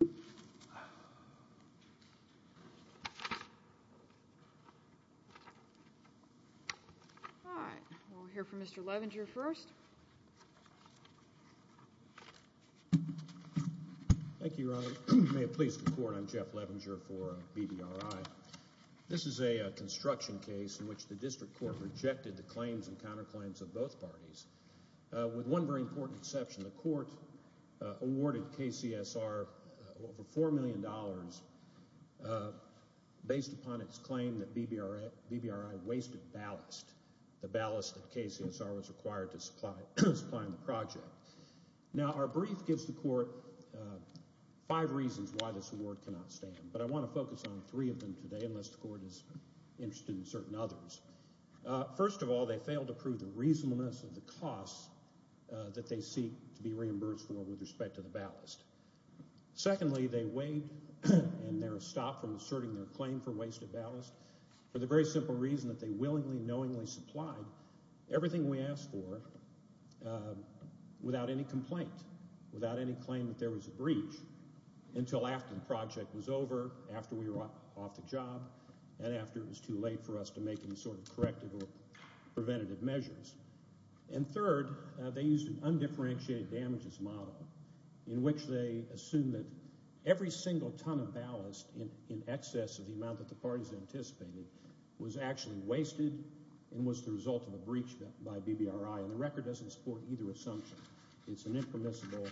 All right. We'll hear from Mr. Levinger first. Thank you, Ronnie. May it please the Court, I'm Jeff Levinger for BDRI. This is a construction case in which the District Court rejected the claims and counterclaims of both parties, with one very important exception. The Court awarded KCSR over $4 million based upon its claim that BDRI wasted ballast, the ballast that KCSR was required to supply in the project. Now, our brief gives the Court five reasons why this award cannot stand, but I want to focus on three of them today, unless the Court is interested in certain others. First of all, they failed to prove the reasonableness of the costs that they seek to be reimbursed for with respect to the ballast. Secondly, they waived and their stop from asserting their claim for wasted ballast for the very simple reason that they willingly, knowingly supplied everything we asked for without any complaint, without any claim that there was a breach until after the project was over, after we were off the job, and after it was too late for us to make any sort of corrective or preventative measures. And third, they used an undifferentiated damages model in which they assumed that every single ton of ballast in excess of the amount that the parties anticipated was actually wasted and was the result of a breach by BDRI, and the record doesn't support either assumption. It's an impermissible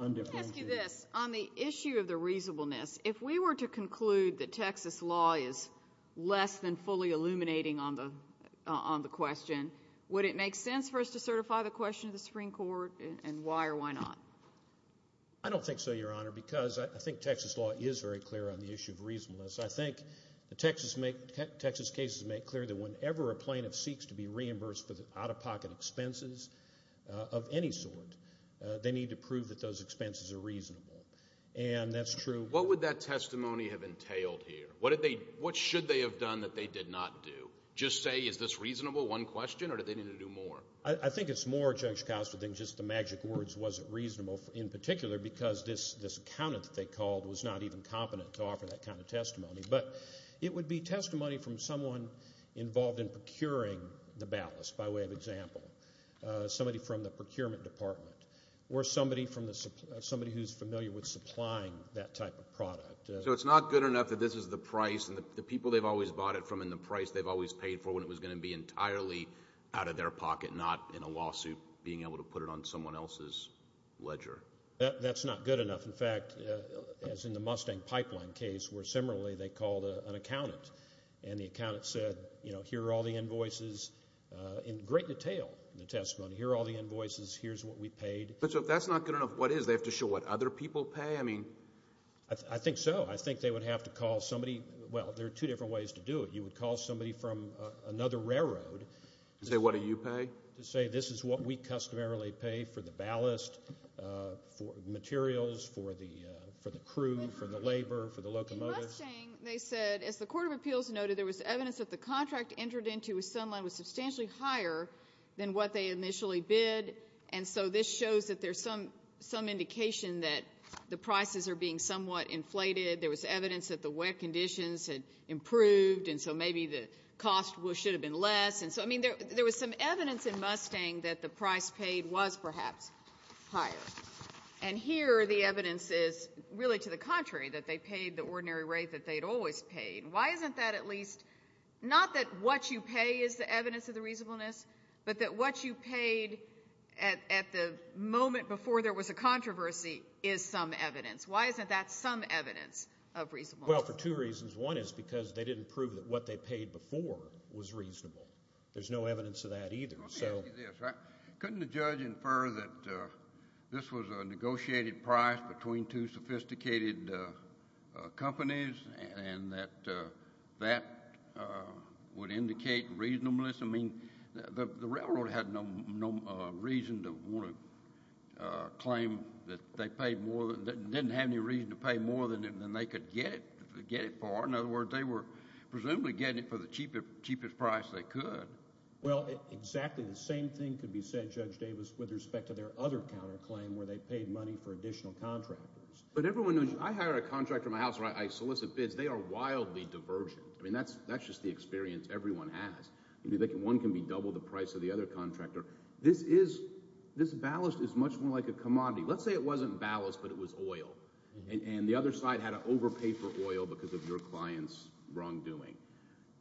undifferentiated... Let me ask you this. On the issue of the reasonableness, if we were to conclude that Texas law is less than fully illuminating on the question, would it make sense for us to certify the question to the Supreme Court, and why or why not? I don't think so, Your Honor, because I think Texas law is very clear on the issue of reasonableness. I think the Texas cases make clear that whenever a plaintiff seeks to be reimbursed for the any sort, they need to prove that those expenses are reasonable. And that's true... What would that testimony have entailed here? What should they have done that they did not do? Just say, is this reasonable, one question, or do they need to do more? I think it's more juxtaposed than just the magic words, was it reasonable, in particular because this accountant that they called was not even competent to offer that kind of testimony. But it would be testimony from someone involved in procuring the ballast, by way of example. Somebody from the procurement department, or somebody who's familiar with supplying that type of product. So it's not good enough that this is the price, and the people they've always bought it from, and the price they've always paid for when it was going to be entirely out of their pocket, not in a lawsuit, being able to put it on someone else's ledger? That's not good enough. In fact, as in the Mustang Pipeline case, where similarly they called an accountant, and the accountant said, you know, here are all the invoices, in great detail, in the testimony, here are all the invoices, here's what we paid. But so if that's not good enough, what is? They have to show what other people pay? I mean... I think so. I think they would have to call somebody, well, there are two different ways to do it. You would call somebody from another railroad... And say, what do you pay? To say, this is what we customarily pay for the ballast, for materials, for the crew, for the labor, for the locomotive. In the Mustang, they said, as the Court of Appeals noted, there was evidence that the contract entered into with Sunline was substantially higher than what they initially bid, and so this shows that there's some indication that the prices are being somewhat inflated. There was evidence that the wet conditions had improved, and so maybe the cost should have been less. And so, I mean, there was some evidence in Mustang that the price paid was perhaps higher. And here, the evidence is really to the contrary, that they paid the ordinary rate that they'd always paid. Why isn't that at least... Not that what you pay is the evidence of the reasonableness, but that what you paid at the moment before there was a controversy is some evidence. Why isn't that some evidence of reasonableness? Well, for two reasons. One is because they didn't prove that what they paid before was reasonable. There's no evidence of that either, so... Let me ask you this, right? Couldn't the judge infer that this was a negotiated price between two sophisticated companies, and that that would indicate reasonableness? I mean, the railroad had no reason to want to claim that they paid more, didn't have any reason to pay more than they could get it for. In other words, they were presumably getting it for the cheapest price they could. Well, exactly the same thing could be said, Judge Davis, with respect to their other counterclaim, where they paid money for additional contractors. But everyone knows, I hire a contractor in my house, or I solicit bids, they are wildly divergent. I mean, that's just the experience everyone has. One can be double the price of the other contractor. This ballast is much more like a commodity. Let's say it wasn't ballast, but it was oil, and the other side had to overpay for oil because of your client's wrongdoing.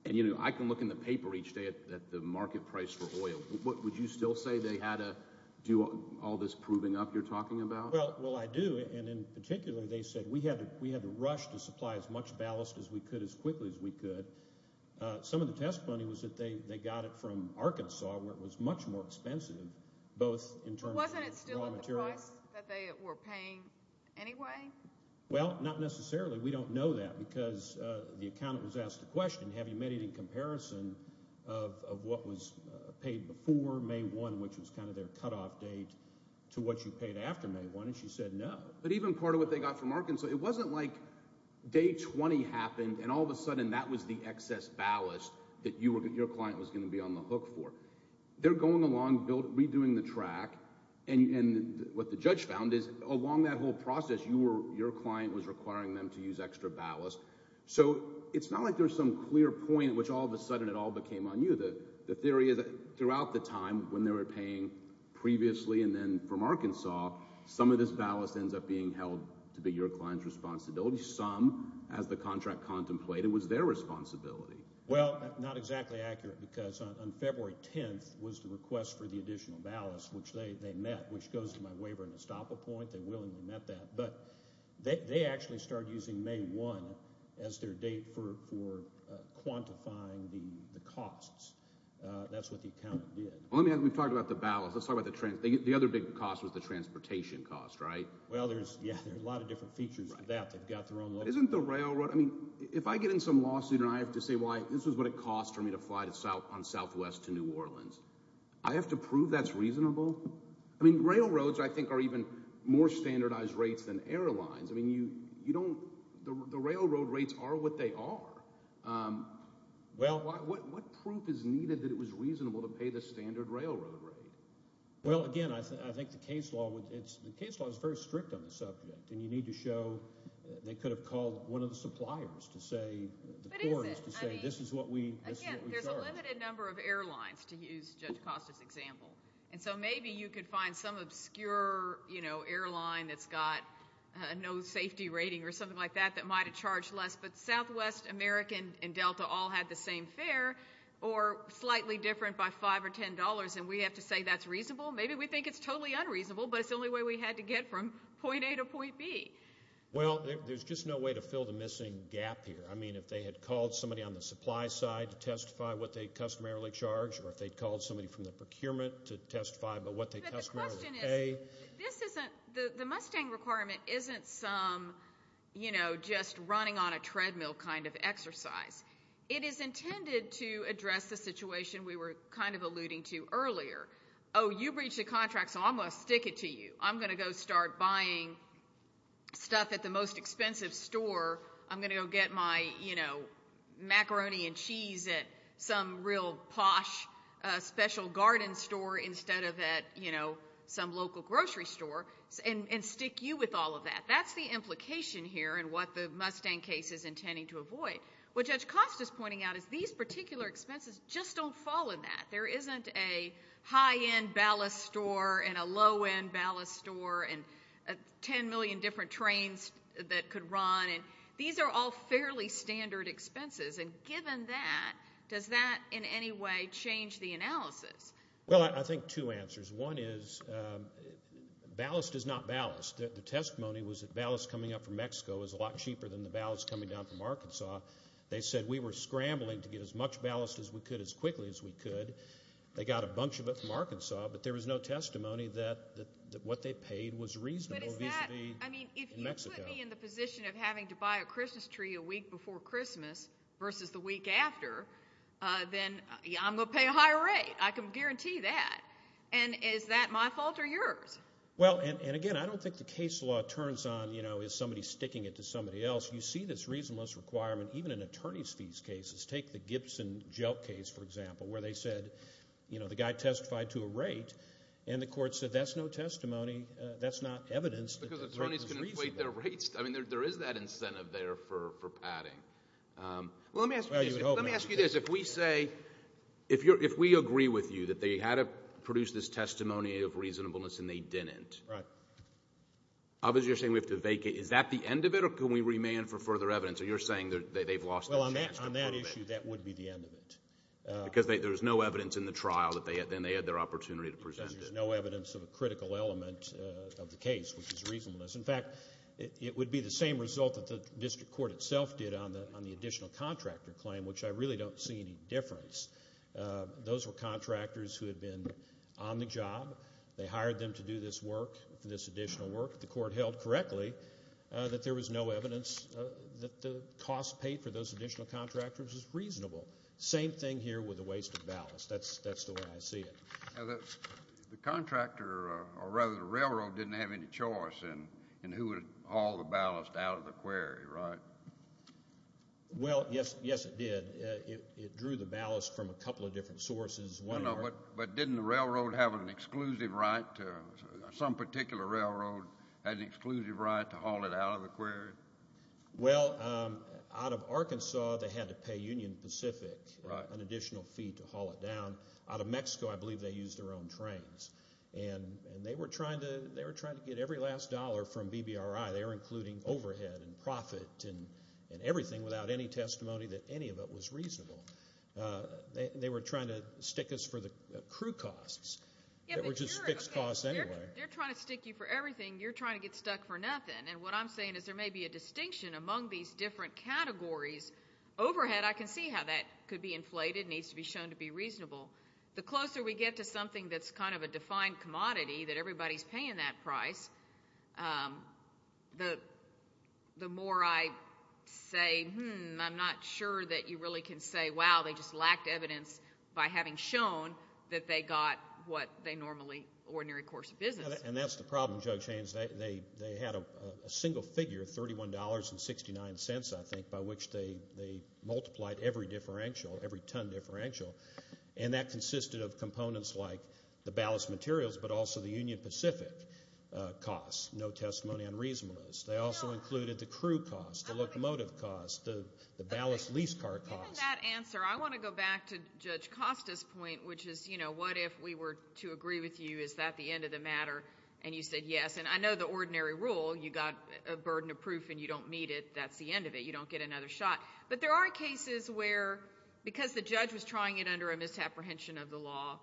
And, you know, I can look in the paper each day at the market price for oil. Would you still say they had to do all this proving up you're talking about? Well, I do, and in particular, they said we had to rush to supply as much ballast as we could as quickly as we could. Some of the testimony was that they got it from Arkansas, where it was much more expensive, both in terms of raw materials... But wasn't it still at the price that they were paying anyway? Well, not necessarily. We don't know that because the accountant was asked the question, have you made any comparison of what was paid before May 1, which was kind of their cutoff date, to what you paid after May 1, and she said no. But even part of what they got from Arkansas, it wasn't like day 20 happened and all of a sudden that was the excess ballast that your client was going to be on the hook for. They're going along, redoing the track, and what the judge found is along that whole process your client was requiring them to use extra ballast. So it's not like there's some clear point at which all of a sudden it all became on you. The theory is that throughout the time when they were paying previously and then from Arkansas, some of this ballast ends up being held to be your client's responsibility, some, as the contract contemplated, was their responsibility. Well, not exactly accurate because on February 10th was the request for the additional ballast, which they met, which goes to my waiver and estoppel point. They willingly met that. But they actually started using May 1 as their date for quantifying the costs. That's what the accountant did. Well, we've talked about the ballast. Let's talk about the transportation. The other big cost was the transportation cost, right? Well, yeah, there's a lot of different features to that. They've got their own local... Isn't the railroad... I mean, if I get in some lawsuit and I have to say why this is what it costs for me to fly on Southwest to New Orleans, I have to prove that's reasonable? I mean, railroads, I think, are even more standardized rates than airlines. I mean, the railroad rates are what they are. What proof is needed that it was reasonable to pay the standard railroad rate? Well, again, I think the case law is very strict on the subject, and you need to show they could have called one of the suppliers to say, the court has to say, this is what we charge. There's a limited number of airlines, to use Judge Costa's example, and so maybe you could find some obscure airline that's got no safety rating or something like that that might have charged less, but Southwest, American, and Delta all had the same fare or slightly different by $5 or $10, and we have to say that's reasonable? Maybe we think it's totally unreasonable, but it's the only way we had to get from point A to point B. Well, there's just no way to fill the missing gap here. I mean, if they had called somebody on the supply side to testify what they customarily charge, or if they'd called somebody from the procurement to testify about what they customarily pay. But the question is, the Mustang requirement isn't some, you know, just running on a treadmill kind of exercise. It is intended to address the situation we were kind of alluding to earlier. Oh, you breached the contract, so I'm going to stick it to you. I'm going to go start buying stuff at the most expensive store. I'm going to go get my, you know, macaroni and cheese at some real posh special garden store instead of at, you know, some local grocery store, and stick you with all of that. That's the implication here and what the Mustang case is intending to avoid. What Judge Costas is pointing out is these particular expenses just don't fall in that. There isn't a high-end ballast store and a low-end ballast store and 10 million different trains that could run, and these are all fairly standard expenses, and given that, does that in any way change the analysis? Well, I think two answers. One is ballast is not ballast. The testimony was that ballast coming up from Mexico is a lot cheaper than the ballast coming down from Arkansas. They said we were scrambling to get as much ballast as we could as quickly as we could. They got a bunch of it from Arkansas, but there was no testimony that what they paid was reasonable vis-a-vis Mexico. But is that, I mean, if you put me in the after, then I'm going to pay a higher rate. I can guarantee that. And is that my fault or yours? Well, and again, I don't think the case law turns on, you know, is somebody sticking it to somebody else. You see this reasonableness requirement even in attorney's fees cases. Take the Gibson Jelk case, for example, where they said, you know, the guy testified to a rate, and the court said that's no testimony. That's not evidence. Because attorneys can inflate their rates. I mean, there is that incentive there for padding. Well, let me ask you this. Let me ask you this. If we say, if you're, if we agree with you that they had to produce this testimony of reasonableness, and they didn't. Right. Obviously, you're saying we have to vacate. Is that the end of it, or can we remand for further evidence? Or you're saying that they've lost their chance to prove it. On that issue, that would be the end of it. Because there's no evidence in the trial that they had, then they had their opportunity to present. There's no evidence of a critical element of the case, which is reasonableness. In fact, it would be the same result that the district court itself did on the additional contractor claim, which I really don't see any difference. Those were contractors who had been on the job. They hired them to do this work, this additional work. The court held correctly that there was no evidence that the cost paid for those additional contractors was reasonable. Same thing here with the waste of ballast. That's the way I see it. The contractor, or rather the railroad, didn't have any choice in who would haul the ballast out of the quarry, right? Well, yes it did. It drew the ballast from a couple of different sources. But didn't the railroad have an exclusive right, some particular railroad had an exclusive right to haul it out of the quarry? Well, out of Arkansas, they had to pay Union Pacific an additional fee to haul it down. Out of Mexico, I believe they used their own trains. And they were trying to get every last dollar from BBRI. They were including overhead and profit and everything without any testimony that any of it was reasonable. They were trying to stick us for the crew costs, which is fixed costs anyway. They're trying to stick you for everything. You're trying to get stuck for nothing. And what I'm saying is there may be a distinction among these different categories. Overhead, I can see how that could be inflated, needs to be shown to be reasonable. The closer we get to something that's kind of a defined commodity that everybody's paying that price, the more I say, hmm, I'm not sure that you really can say, wow, they just lacked evidence by having shown that they got what they normally, ordinary course of business. And that's the problem, Judge Haynes. They had a single figure, $31.69, I think, by which they multiplied every differential, every ton differential. And that consisted of components like the ballast materials, but also the Union Pacific costs, no testimony on reasonableness. They also included the crew cost, the locomotive cost, the ballast lease car cost. Given that answer, I want to go back to Judge Costa's point, which is, you know, what if we were to agree with you, is that the end of the matter? And you said yes. And I know the ordinary rule, you got a burden of proof and you don't meet it, that's the end of it, you don't get another shot. But there are cases where, because the judge was trying it under a misapprehension of the law,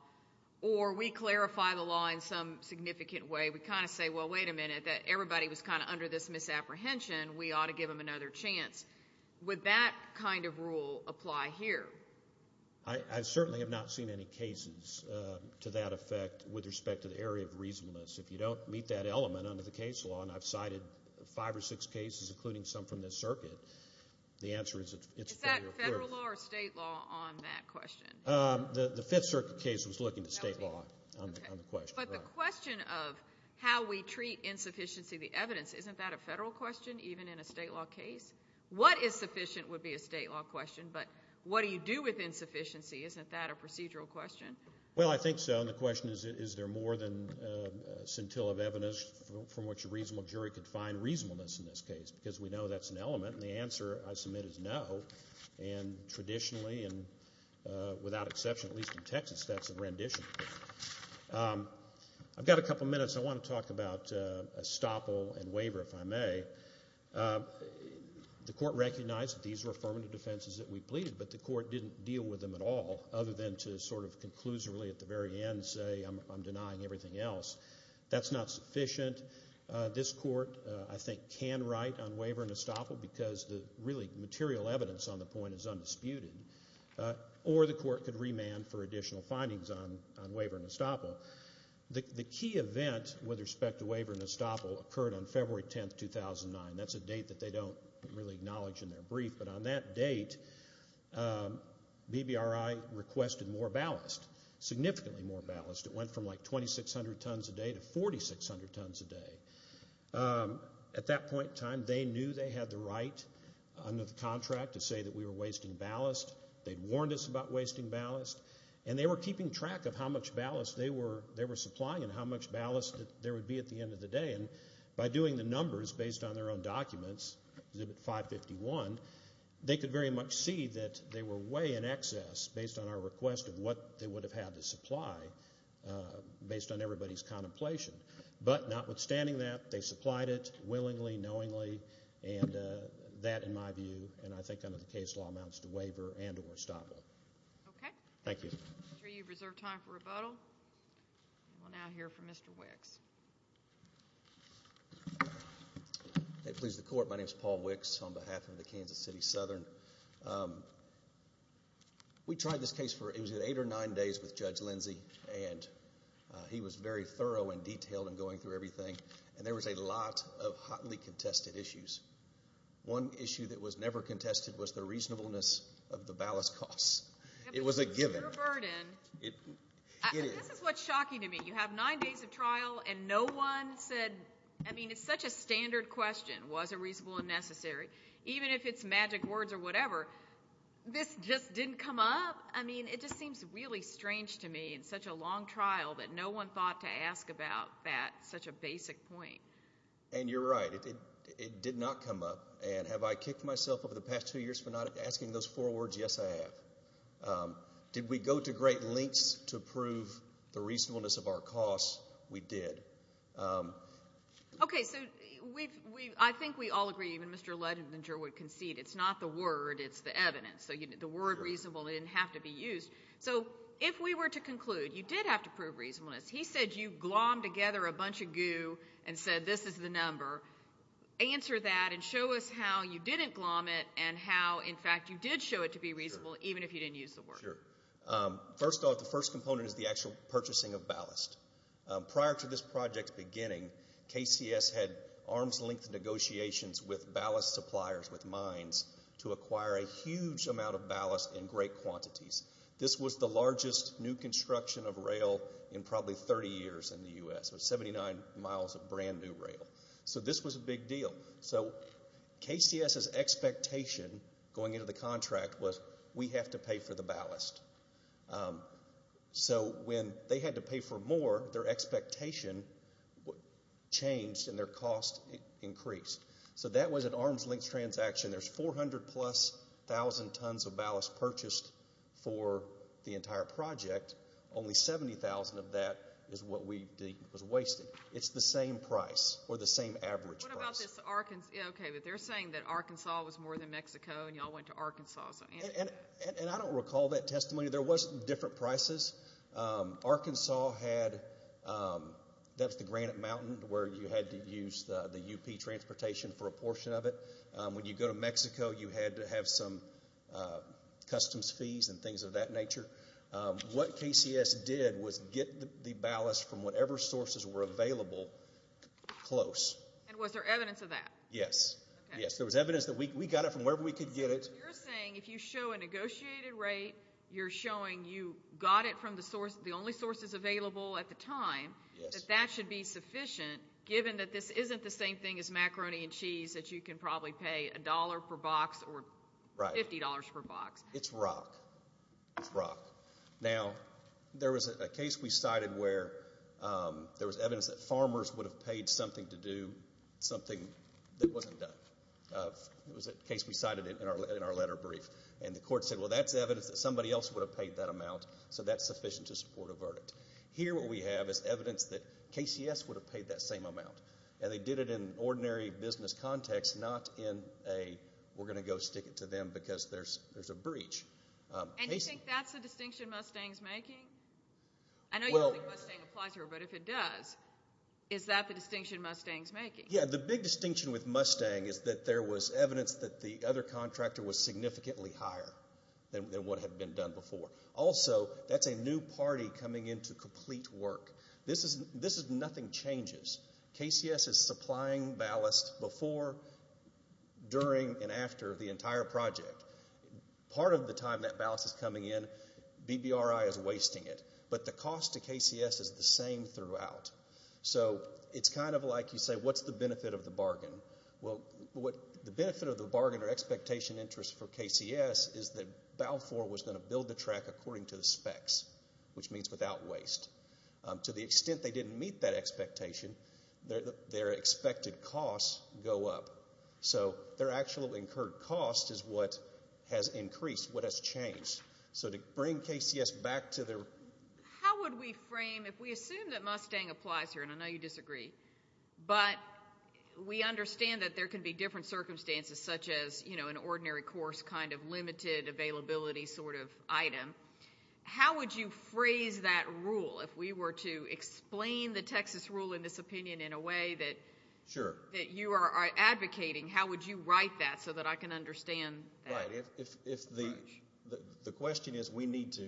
or we clarify the law in some significant way, we kind of say, well, wait a minute, that everybody was kind of under this misapprehension, we ought to give them another chance. Would that kind of rule apply here? I certainly have not seen any cases to that effect with respect to the area of reasonableness. If you don't meet that element under the case law, and I've cited five or six cases, including some from this circuit, the answer is it's federal proof. Is that federal law or state law on that question? The Fifth Circuit case was looking to state law on the question. But the question of how we treat insufficiency of the evidence, isn't that a federal question even in a state law case? What is sufficient would be a state law question, but what do you do with insufficiency? Isn't that a procedural question? Well, I think so. And the question is, is there more than scintilla of evidence from which a reasonable jury could find reasonableness in this case? Because we know that's an element, and the answer I submit is no. And traditionally, and without exception, at least in Texas, that's a rendition. I've got a couple minutes. I want to talk about estoppel and waiver, if I may. The Court recognized that these were affirmative defenses that we pleaded, but the Court didn't deal with them at all, other than to sort of conclusively at the very end say, I'm denying everything else. That's not sufficient. This Court, I think, can write on waiver and estoppel, because the really material evidence on the point is undisputed. Or the Court could remand for additional findings on waiver and estoppel. The key event with respect to waiver and estoppel occurred on February 10, 2009. That's a date that they don't really acknowledge in their brief. But on that date, BBRI requested more ballast, significantly more ballast. It went from like 2,600 tons a day to 4,600 tons a day. At that point in time, they knew they had the right, under the contract, to say that we were wasting ballast. They'd warned us about wasting ballast. And they were keeping track of how much ballast they were supplying and how much ballast there would be at the end of the day. And by doing the numbers based on their own documents, Exhibit 551, they could very much see that they were way in excess, based on our request of what they would have had to supply, based on everybody's contemplation. But notwithstanding that, they supplied it willingly, knowingly. And that, in my view, and I think under the case law, amounts to waiver and or estoppel. Okay. Thank you. You've reserved time for rebuttal. We'll now hear from Mr. Wicks. May it please the Court. My name is Paul Wicks on behalf of the Kansas City Southern. We tried this case for, it was eight or nine days, with Judge Lindsey. And he was very thorough and detailed in going through everything. And there was a lot of hotly contested issues. One issue that was never contested was the reasonableness of the ballast costs. It was a given. It was a burden. It is. This is what's shocking to me. You have nine days of trial, and no one said, I mean, it's such a standard question, was it reasonable and necessary? Even if it's magic words or whatever, this just didn't come up? I mean, it just seems really strange to me. It's such a long trial that no one thought to ask about that, such a basic point. And you're right. It did not come up. And have I kicked myself over the past two years for not asking those four words? Yes, I have. Did we go to great lengths to prove the reasonableness of our costs? We did. Okay, so I think we all agree, even Mr. Ledinger would concede, it's not the word, it's the evidence. So the word reasonable didn't have to be used. So if we were to conclude, you did have to prove reasonableness. He said you glommed together a bunch of goo and said, this is the number. Answer that and show us how you didn't glomme it and how, in fact, you did show it to be reasonable, even if you didn't use the word. Sure. First off, the first component is the actual purchasing of ballast. Prior to this project's beginning, KCS had arms-length negotiations with ballast suppliers, with mines, to acquire a huge amount of ballast in great quantities. This was the largest new construction of rail in probably 30 years in the U.S., with 79 miles of brand new rail. So this was a big deal. So KCS's expectation going into the contract was, we have to pay for the ballast. So when they had to pay for more, their expectation changed and their cost increased. So that was an arms-length transaction. There's 400-plus thousand tons of ballast purchased for the entire project. Only 70,000 of that is what we was wasting. It's the same price, or the same average price. What about this Arkansas? Okay, but they're saying that Arkansas was more than Mexico and y'all went to Arkansas. And I don't recall that testimony. There was different prices. Arkansas had, that's the Granite Mountain, where you had to use the UP transportation for a portion of it. When you go to Mexico, you had to have some customs fees and things of that nature. What KCS did was get the ballast from whatever sources were available close. And was there evidence of that? Yes, yes. There was evidence that we got it from wherever we could get it. You're saying if you show a negotiated rate, you're showing you got it from the source, the only sources available at the time, that that should be sufficient given that this isn't the same thing as macaroni and cheese that you can probably pay a dollar per box or $50 per box. It's rock. It's rock. Now, there was a case we cited where there was evidence that farmers would have paid something to do something that wasn't done. It was a case we cited in our letter brief. And the court said, well, that's evidence that somebody else would have paid that amount, so that's sufficient to support a verdict. Here, what we have is evidence that KCS would have paid that same amount. And they did it in ordinary business context, not in a, we're going to go stick it to them because there's a breach. And you think that's the distinction Mustang's making? I know you don't think Mustang applies here, but if it does, is that the distinction Mustang's making? The big distinction with Mustang is that there was evidence that the other contractor was significantly higher than what had been done before. Also, that's a new party coming into complete work. This is nothing changes. KCS is supplying ballast before, during, and after the entire project. Part of the time that ballast is coming in, BBRI is wasting it. But the cost to KCS is the same throughout. So it's kind of like you say, what's the benefit of the bargain? Well, the benefit of the bargain or expectation interest for KCS is that Balfour was going to build the track according to the specs, which means without waste. To the extent they didn't meet that expectation, their expected costs go up. So their actual incurred cost is what has increased, what has changed. So to bring KCS back to their... How would we frame... If we assume that Mustang applies here, and I know you disagree, but we understand that there can be different circumstances, such as an ordinary course, kind of limited availability sort of item, how would you phrase that rule? If we were to explain the Texas rule in this opinion in a way that you are advocating, how would you write that so that I can understand that? If the question is we need to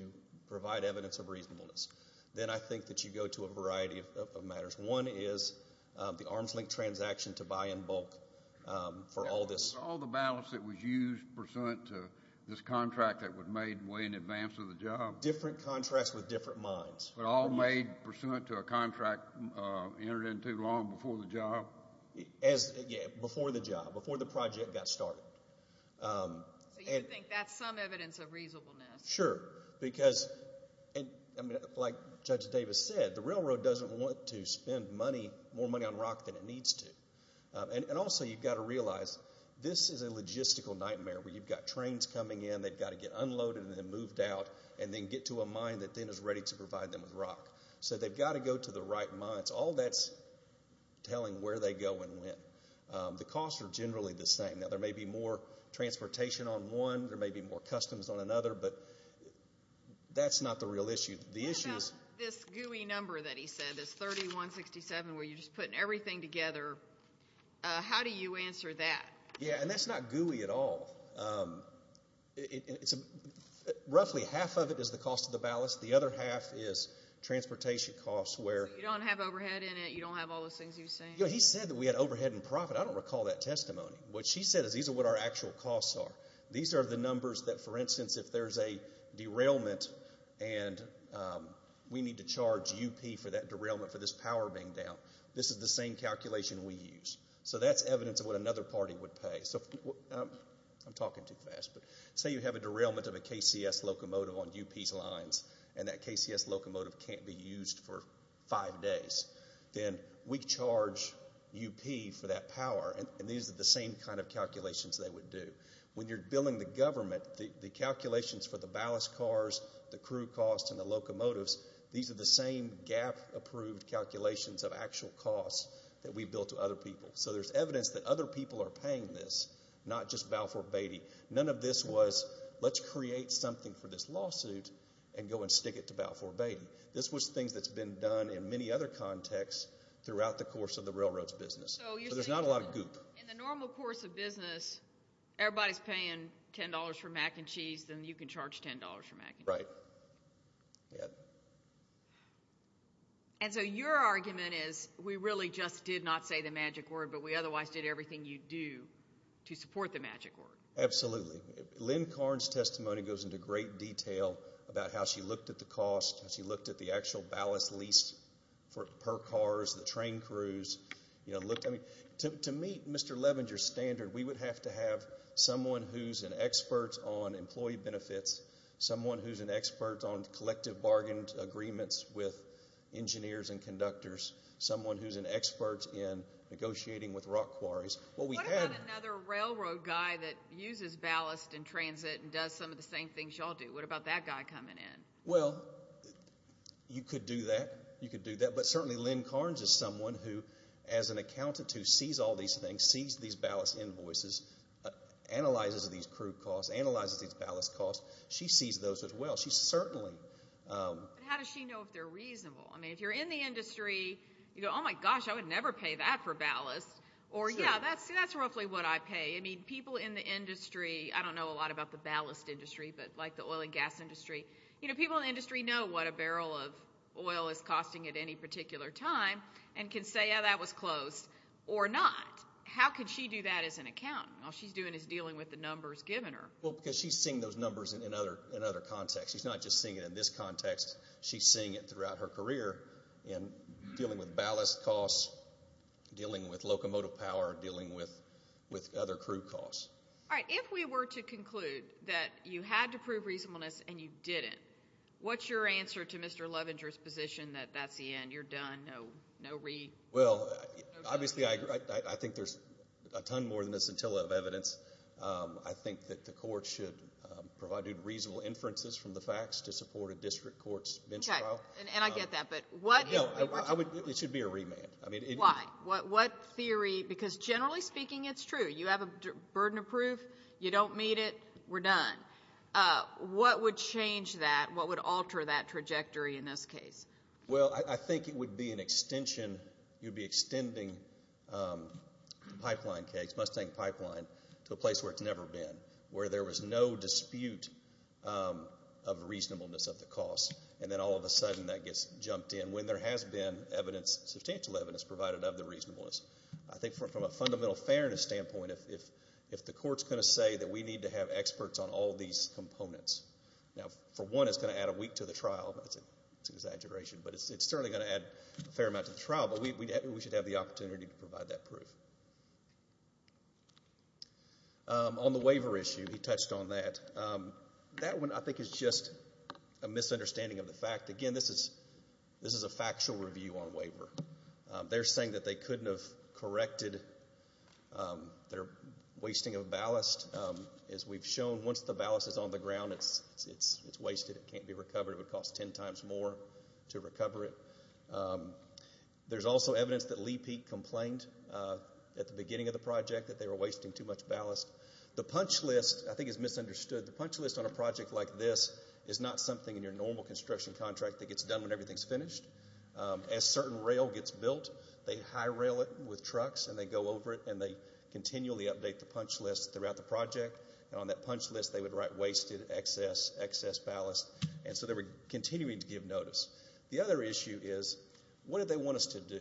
provide evidence of reasonableness, then I think that you go to a variety of matters. One is the arms link transaction to buy in bulk for all this... All the ballast that was used pursuant to this contract that was made way in advance of the job? Different contracts with different minds. But all made pursuant to a contract entered into long before the job? Before the job, before the project got started. So you think that's some evidence of reasonableness? Sure. Because, like Judge Davis said, the railroad doesn't want to spend more money on rock than it needs to. And also, you've got to realize, this is a logistical nightmare where you've got trains coming in, they've got to get unloaded and then moved out, and then get to a mine that then is ready to provide them with rock. So they've got to go to the right mines. All that's telling where they go and when. The costs are generally the same. There may be more transportation on one, there may be more customs on another, but that's not the real issue. The issue is... What about this gooey number that he said, this 3167, where you're just putting everything together. How do you answer that? Yeah, and that's not gooey at all. Roughly half of it is the cost of the ballast. The other half is transportation costs where... You don't have overhead in it? You don't have all those things he was saying? He said that we had overhead and profit. I don't recall that testimony. What she said is these are what our actual costs are. These are the numbers that, for instance, if there's a derailment and we need to charge UP for that derailment for this power being down, this is the same calculation we use. So that's evidence of what another party would pay. I'm talking too fast. But say you have a derailment of a KCS locomotive on UP's lines and that KCS locomotive can't be used for five days. Then we charge UP for that power, and these are the same kind of calculations they would do. When you're billing the government, the calculations for the ballast cars, the crew costs, and the locomotives, these are the same GAAP-approved calculations of actual costs that we bill to other people. So there's evidence that other people are paying this, not just Balfour Beatty. None of this was, let's create something for this lawsuit and go and stick it to Balfour Beatty. This was things that's been done in many other contexts throughout the course of the railroad's business. So there's not a lot of goop. In the normal course of business, everybody's paying $10 for mac and cheese, then you can charge $10 for mac and cheese. Right. And so your argument is we really just did not say the magic word, but we otherwise did everything you do to support the magic word. Absolutely. We looked at the actual ballast lease per cars, the train crews. To meet Mr. Levenger's standard, we would have to have someone who's an expert on employee benefits, someone who's an expert on collective bargain agreements with engineers and conductors, someone who's an expert in negotiating with rock quarries. What about another railroad guy that uses ballast in transit and does some of the same things y'all do? What about that guy coming in? Well, you could do that. You could do that. But certainly, Lynn Carnes is someone who, as an accountant who sees all these things, sees these ballast invoices, analyzes these crew costs, analyzes these ballast costs. She sees those as well. She certainly... How does she know if they're reasonable? I mean, if you're in the industry, you go, oh my gosh, I would never pay that for ballast. Or yeah, that's roughly what I pay. I mean, people in the industry, I don't know a lot about the ballast industry, but like the oil and gas industry, you know, people in the industry know what a barrel of oil is costing at any particular time and can say, yeah, that was close or not. How could she do that as an accountant? All she's doing is dealing with the numbers given her. Well, because she's seeing those numbers in other contexts. She's not just seeing it in this context. She's seeing it throughout her career in dealing with ballast costs, dealing with locomotive power, dealing with other crew costs. All right. If we were to conclude that you had to prove reasonableness and you didn't, what's your answer to Mr. Lovinger's position that that's the end, you're done, no re... Well, obviously, I think there's a ton more than a scintilla of evidence. I think that the court should provide reasonable inferences from the facts to support a district court's bench trial. Okay, and I get that, but what... No, it should be a remand. I mean... Why? What theory... Because generally speaking, it's true. You have a burden of proof. You don't meet it. We're done. What would change that? What would alter that trajectory in this case? Well, I think it would be an extension. You'd be extending the pipeline case, Mustang Pipeline, to a place where it's never been, where there was no dispute of reasonableness of the cost, and then all of a sudden that gets jumped in when there has been evidence, substantial evidence, provided of the reasonableness. I think from a fundamental fairness standpoint, if the court's going to say that we need to have experts on all these components... Now, for one, it's going to add a week to the trial. That's an exaggeration, but it's certainly going to add a fair amount to the trial, but we should have the opportunity to provide that proof. On the waiver issue, he touched on that. That one, I think, is just a misunderstanding of the fact. Again, this is a factual review on waiver. They're saying that they couldn't have corrected their wasting of ballast. As we've shown, once the ballast is on the ground, it's wasted. It can't be recovered. It would cost ten times more to recover it. There's also evidence that Lee Peak complained at the beginning of the project that they were wasting too much ballast. The punch list, I think, is misunderstood. The punch list on a project like this is not something in your normal construction contract that gets done when everything's finished. As certain rail gets built, they high rail it with trucks, and they go over it, and they continually update the punch list throughout the project. On that punch list, they would write wasted, excess, excess ballast, and so they were continuing to give notice. The other issue is, what did they want us to do?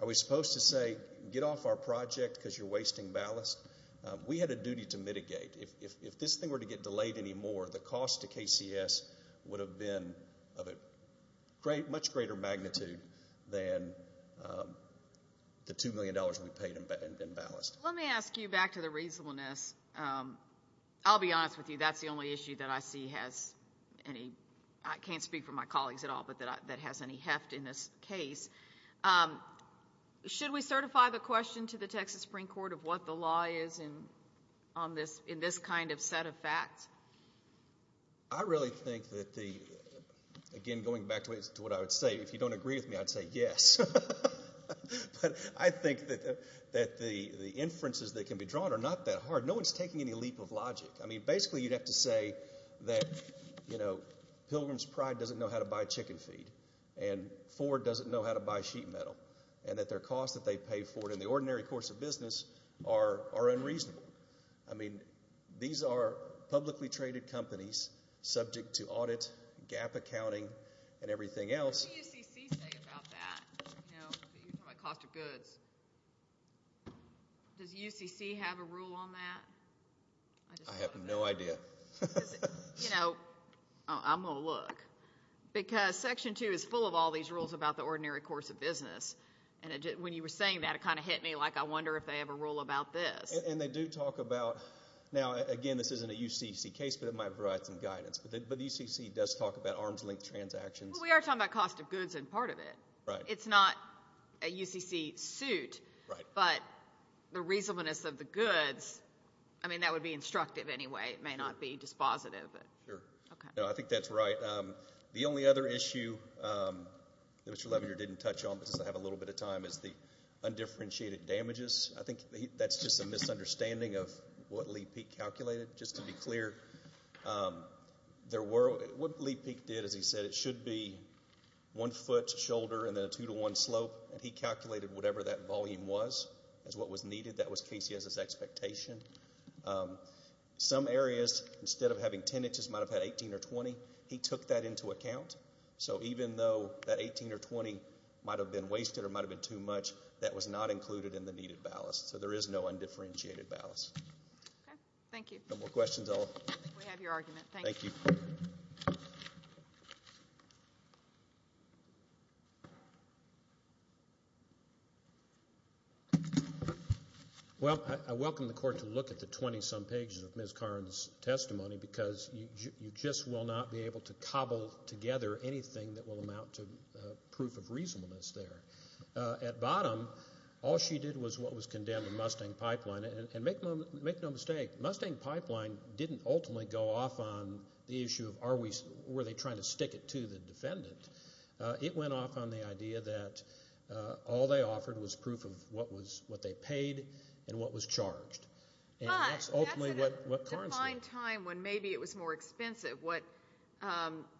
Are we supposed to say, get off our project because you're wasting ballast? We had a duty to mitigate. If this thing were to get delayed anymore, the cost to KCS would have been of a much greater magnitude than the two million dollars we paid in ballast. Let me ask you back to the reasonableness. I'll be honest with you, that's the only issue that I see has any, I can't speak for my colleagues at all, but that has any heft in this case. Should we certify the question to the Texas Supreme Court of what the law is in this kind of set of facts? I really think that the, again, going back to what I would say, if you don't agree with me, I'd say yes. But I think that the inferences that can be drawn are not that hard. No one's taking any leap of logic. I mean, basically, you'd have to say that, you know, Pilgrim's Pride doesn't know how to buy chicken feed, and Ford doesn't know how to buy sheet metal, and that their costs that they pay for it in the ordinary course of business are unreasonable. I mean, these are publicly traded companies subject to audit, gap accounting, and everything else. What does the UCC say about that? You know, you're talking about cost of goods. Does UCC have a rule on that? I have no idea. You know, I'm going to look, because section two is full of all these rules about the ordinary course of business, and when you were saying that, it kind of hit me like I wonder if they have a rule about this. And they do talk about, now, again, this isn't a UCC case, but it might provide some guidance, but the UCC does talk about arms-length transactions. We are talking about cost of goods and part of it. It's not a UCC suit, but the reasonableness of the goods, I mean, that would be instructive anyway. It may not be dispositive, but. Sure. No, I think that's right. The only other issue that Mr. Levener didn't touch on, because I have a little bit of time, is the undifferentiated damages. I think that's just a misunderstanding of what Lee Peek calculated. Just to be clear, what Lee Peek did, as he said, it should be one foot shoulder and then a two-to-one slope, and he calculated whatever that volume was as what was needed. That was KCS's expectation. Some areas, instead of having 10 inches, might have had 18 or 20. He took that into account. So even though that 18 or 20 might have been wasted or might have been too much, that was not included in the needed ballast. So there is no undifferentiated ballast. Okay. Thank you. No more questions, Ella? We have your argument. Thank you. Well, I welcome the court to look at the 20-some pages of Ms. Karn's testimony, because you just will not be able to cobble together anything that will amount to proof of reasonableness there. At bottom, all she did was what was condemned in Mustang Pipeline, and make no mistake, Mustang Pipeline didn't ultimately go off on the issue of were they trying to stick it to the defendant. It went off on the idea that all they offered was proof of what they paid and what was charged. But that's at a defined time when maybe it was more expensive. What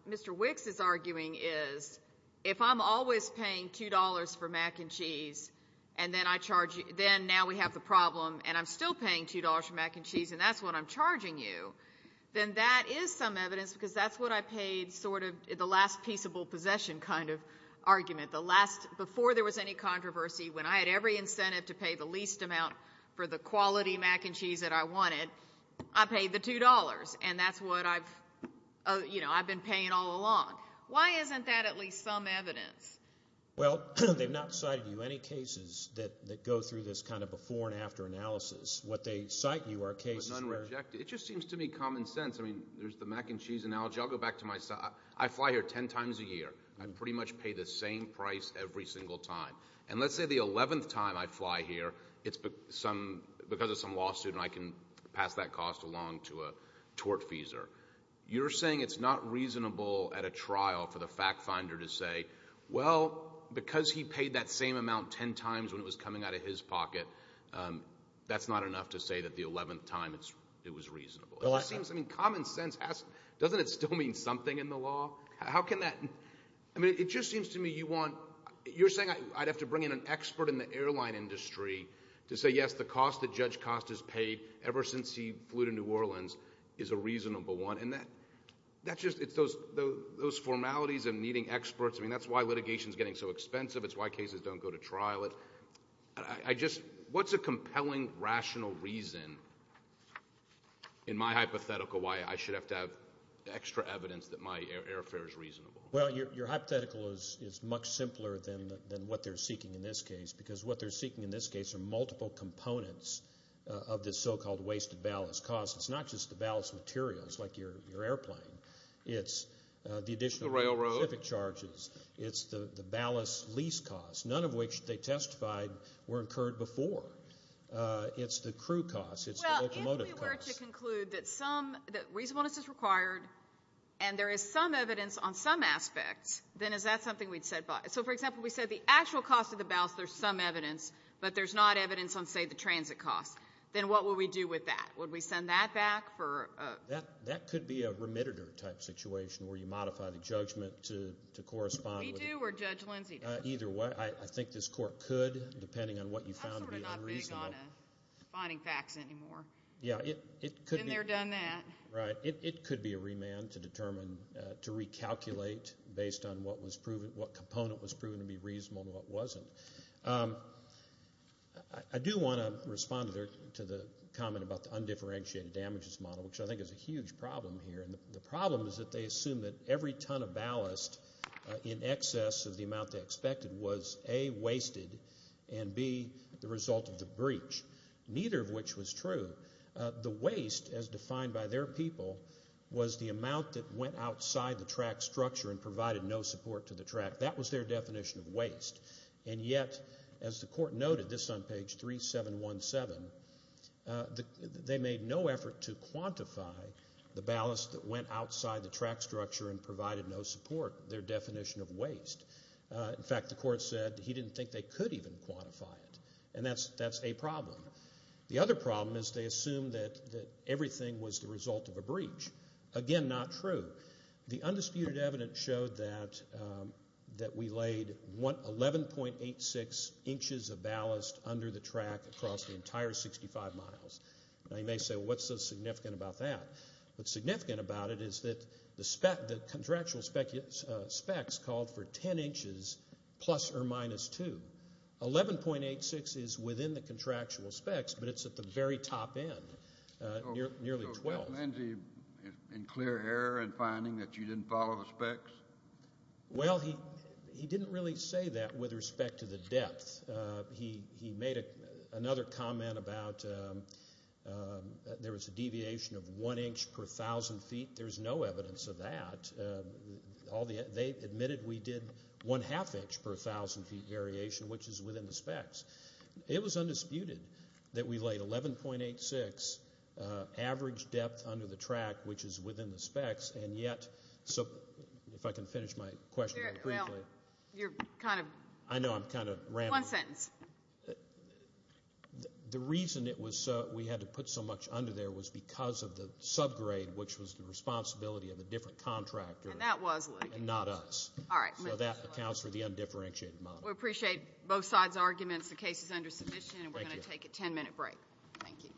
Mr. Wicks is arguing is, if I'm always paying $2 for mac and cheese, and then now we have the problem, and I'm still paying $2 for mac and cheese, and that's what I'm charging you, then that is some evidence, because that's what I paid sort of the last peaceable possession kind of argument. The last, before there was any controversy, when I had every incentive to pay the least amount for the quality mac and cheese that I wanted, I paid the $2. And that's what I've, you know, I've been paying all along. Why isn't that at least some evidence? Well, they've not cited you any cases that go through this kind of a before and after analysis. What they cite you are cases where... It's unrejected. It just seems to me common sense. I mean, there's the mac and cheese analogy. I'll go back to my side. I fly here 10 times a year. I pretty much pay the same price every single time. And let's say the 11th time I fly here, it's because of some lawsuit, and I can pass that cost along to a tortfeasor. You're saying it's not reasonable at a trial for the fact finder to say, well, because he paid that same amount 10 times when it was coming out of his pocket, that's not enough to say that the 11th time it was reasonable. It seems, I mean, common sense has, doesn't it still mean something in the law? How can that, I mean, it just seems to me you want, you're saying I'd have to bring in an expert in the airline industry to say, yes, the cost that Judge Cost has paid ever since he flew to New Orleans is a reasonable one. And that's just, it's those formalities of meeting experts. I mean, that's why litigation is getting so expensive. It's why cases don't go to trial. It, I just, what's a compelling, rational reason in my hypothetical why I should have to have extra evidence that my airfare is reasonable? Well, your hypothetical is much simpler than what they're seeking in this case, because what they're seeking in this case are multiple components of this so-called wasted ballast cost. It's not just the ballast materials like your airplane. It's the additional... The railroad. ...specific charges. It's the ballast lease cost, none of which they testified were incurred before. It's the crew cost. It's the locomotive cost. Well, if we were to conclude that some, that reasonableness is required and there is some evidence on some aspects, then is that something we'd set by? So, for example, we said the actual cost of the ballast, there's some evidence, but there's not evidence on, say, the transit cost. Then what would we do with that? Would we send that back for a... That could be a remitted-er type situation where you modify the judgment to correspond with... We do, or Judge Lindsey does. Either way. I think this court could, depending on what you found to be unreasonable... I'm sort of not big on finding facts anymore. Yeah, it could be... Been there, done that. Right. It could be a remand to determine, to recalculate based on what component was proven to be reasonable and what wasn't. I do want to respond to the comment about the undifferentiated damages model, which I think is a huge problem here. The problem is that they assume that every ton of ballast in excess of the amount they expected was, A, wasted, and, B, the result of the breach, neither of which was true. The waste, as defined by their people, was the amount that went outside the track structure and provided no support to the track. That was their definition of waste. Yet, as the court noted, this on page 3717, they made no effort to quantify the ballast that went outside the track structure and provided no support, their definition of waste. In fact, the court said he didn't think they could even quantify it. That's a problem. The other problem is they assume that everything was the result of a breach, again, not true. The undisputed evidence showed that we laid 11.86 inches of ballast under the track across the entire 65 miles. Now, you may say, well, what's so significant about that? What's significant about it is that the contractual specs called for 10 inches plus or minus 2. 11.86 is within the contractual specs, but it's at the very top end, nearly 12. So, was Lindsey in clear error in finding that you didn't follow the specs? Well, he didn't really say that with respect to the depth. He made another comment about there was a deviation of 1 inch per 1,000 feet. There's no evidence of that. They admitted we did 1 half inch per 1,000 feet variation, which is within the specs. It was undisputed that we laid 11.86 average depth under the track, which is within the specs, and yet, if I can finish my question very briefly. Well, you're kind of... I know, I'm kind of rambling. One sentence. The reason we had to put so much under there was because of the subgrade, which was the and not us. All right. So, that accounts for the undifferentiated model. We appreciate both sides' arguments. The case is under submission, and we're going to take a 10-minute break. Thank you.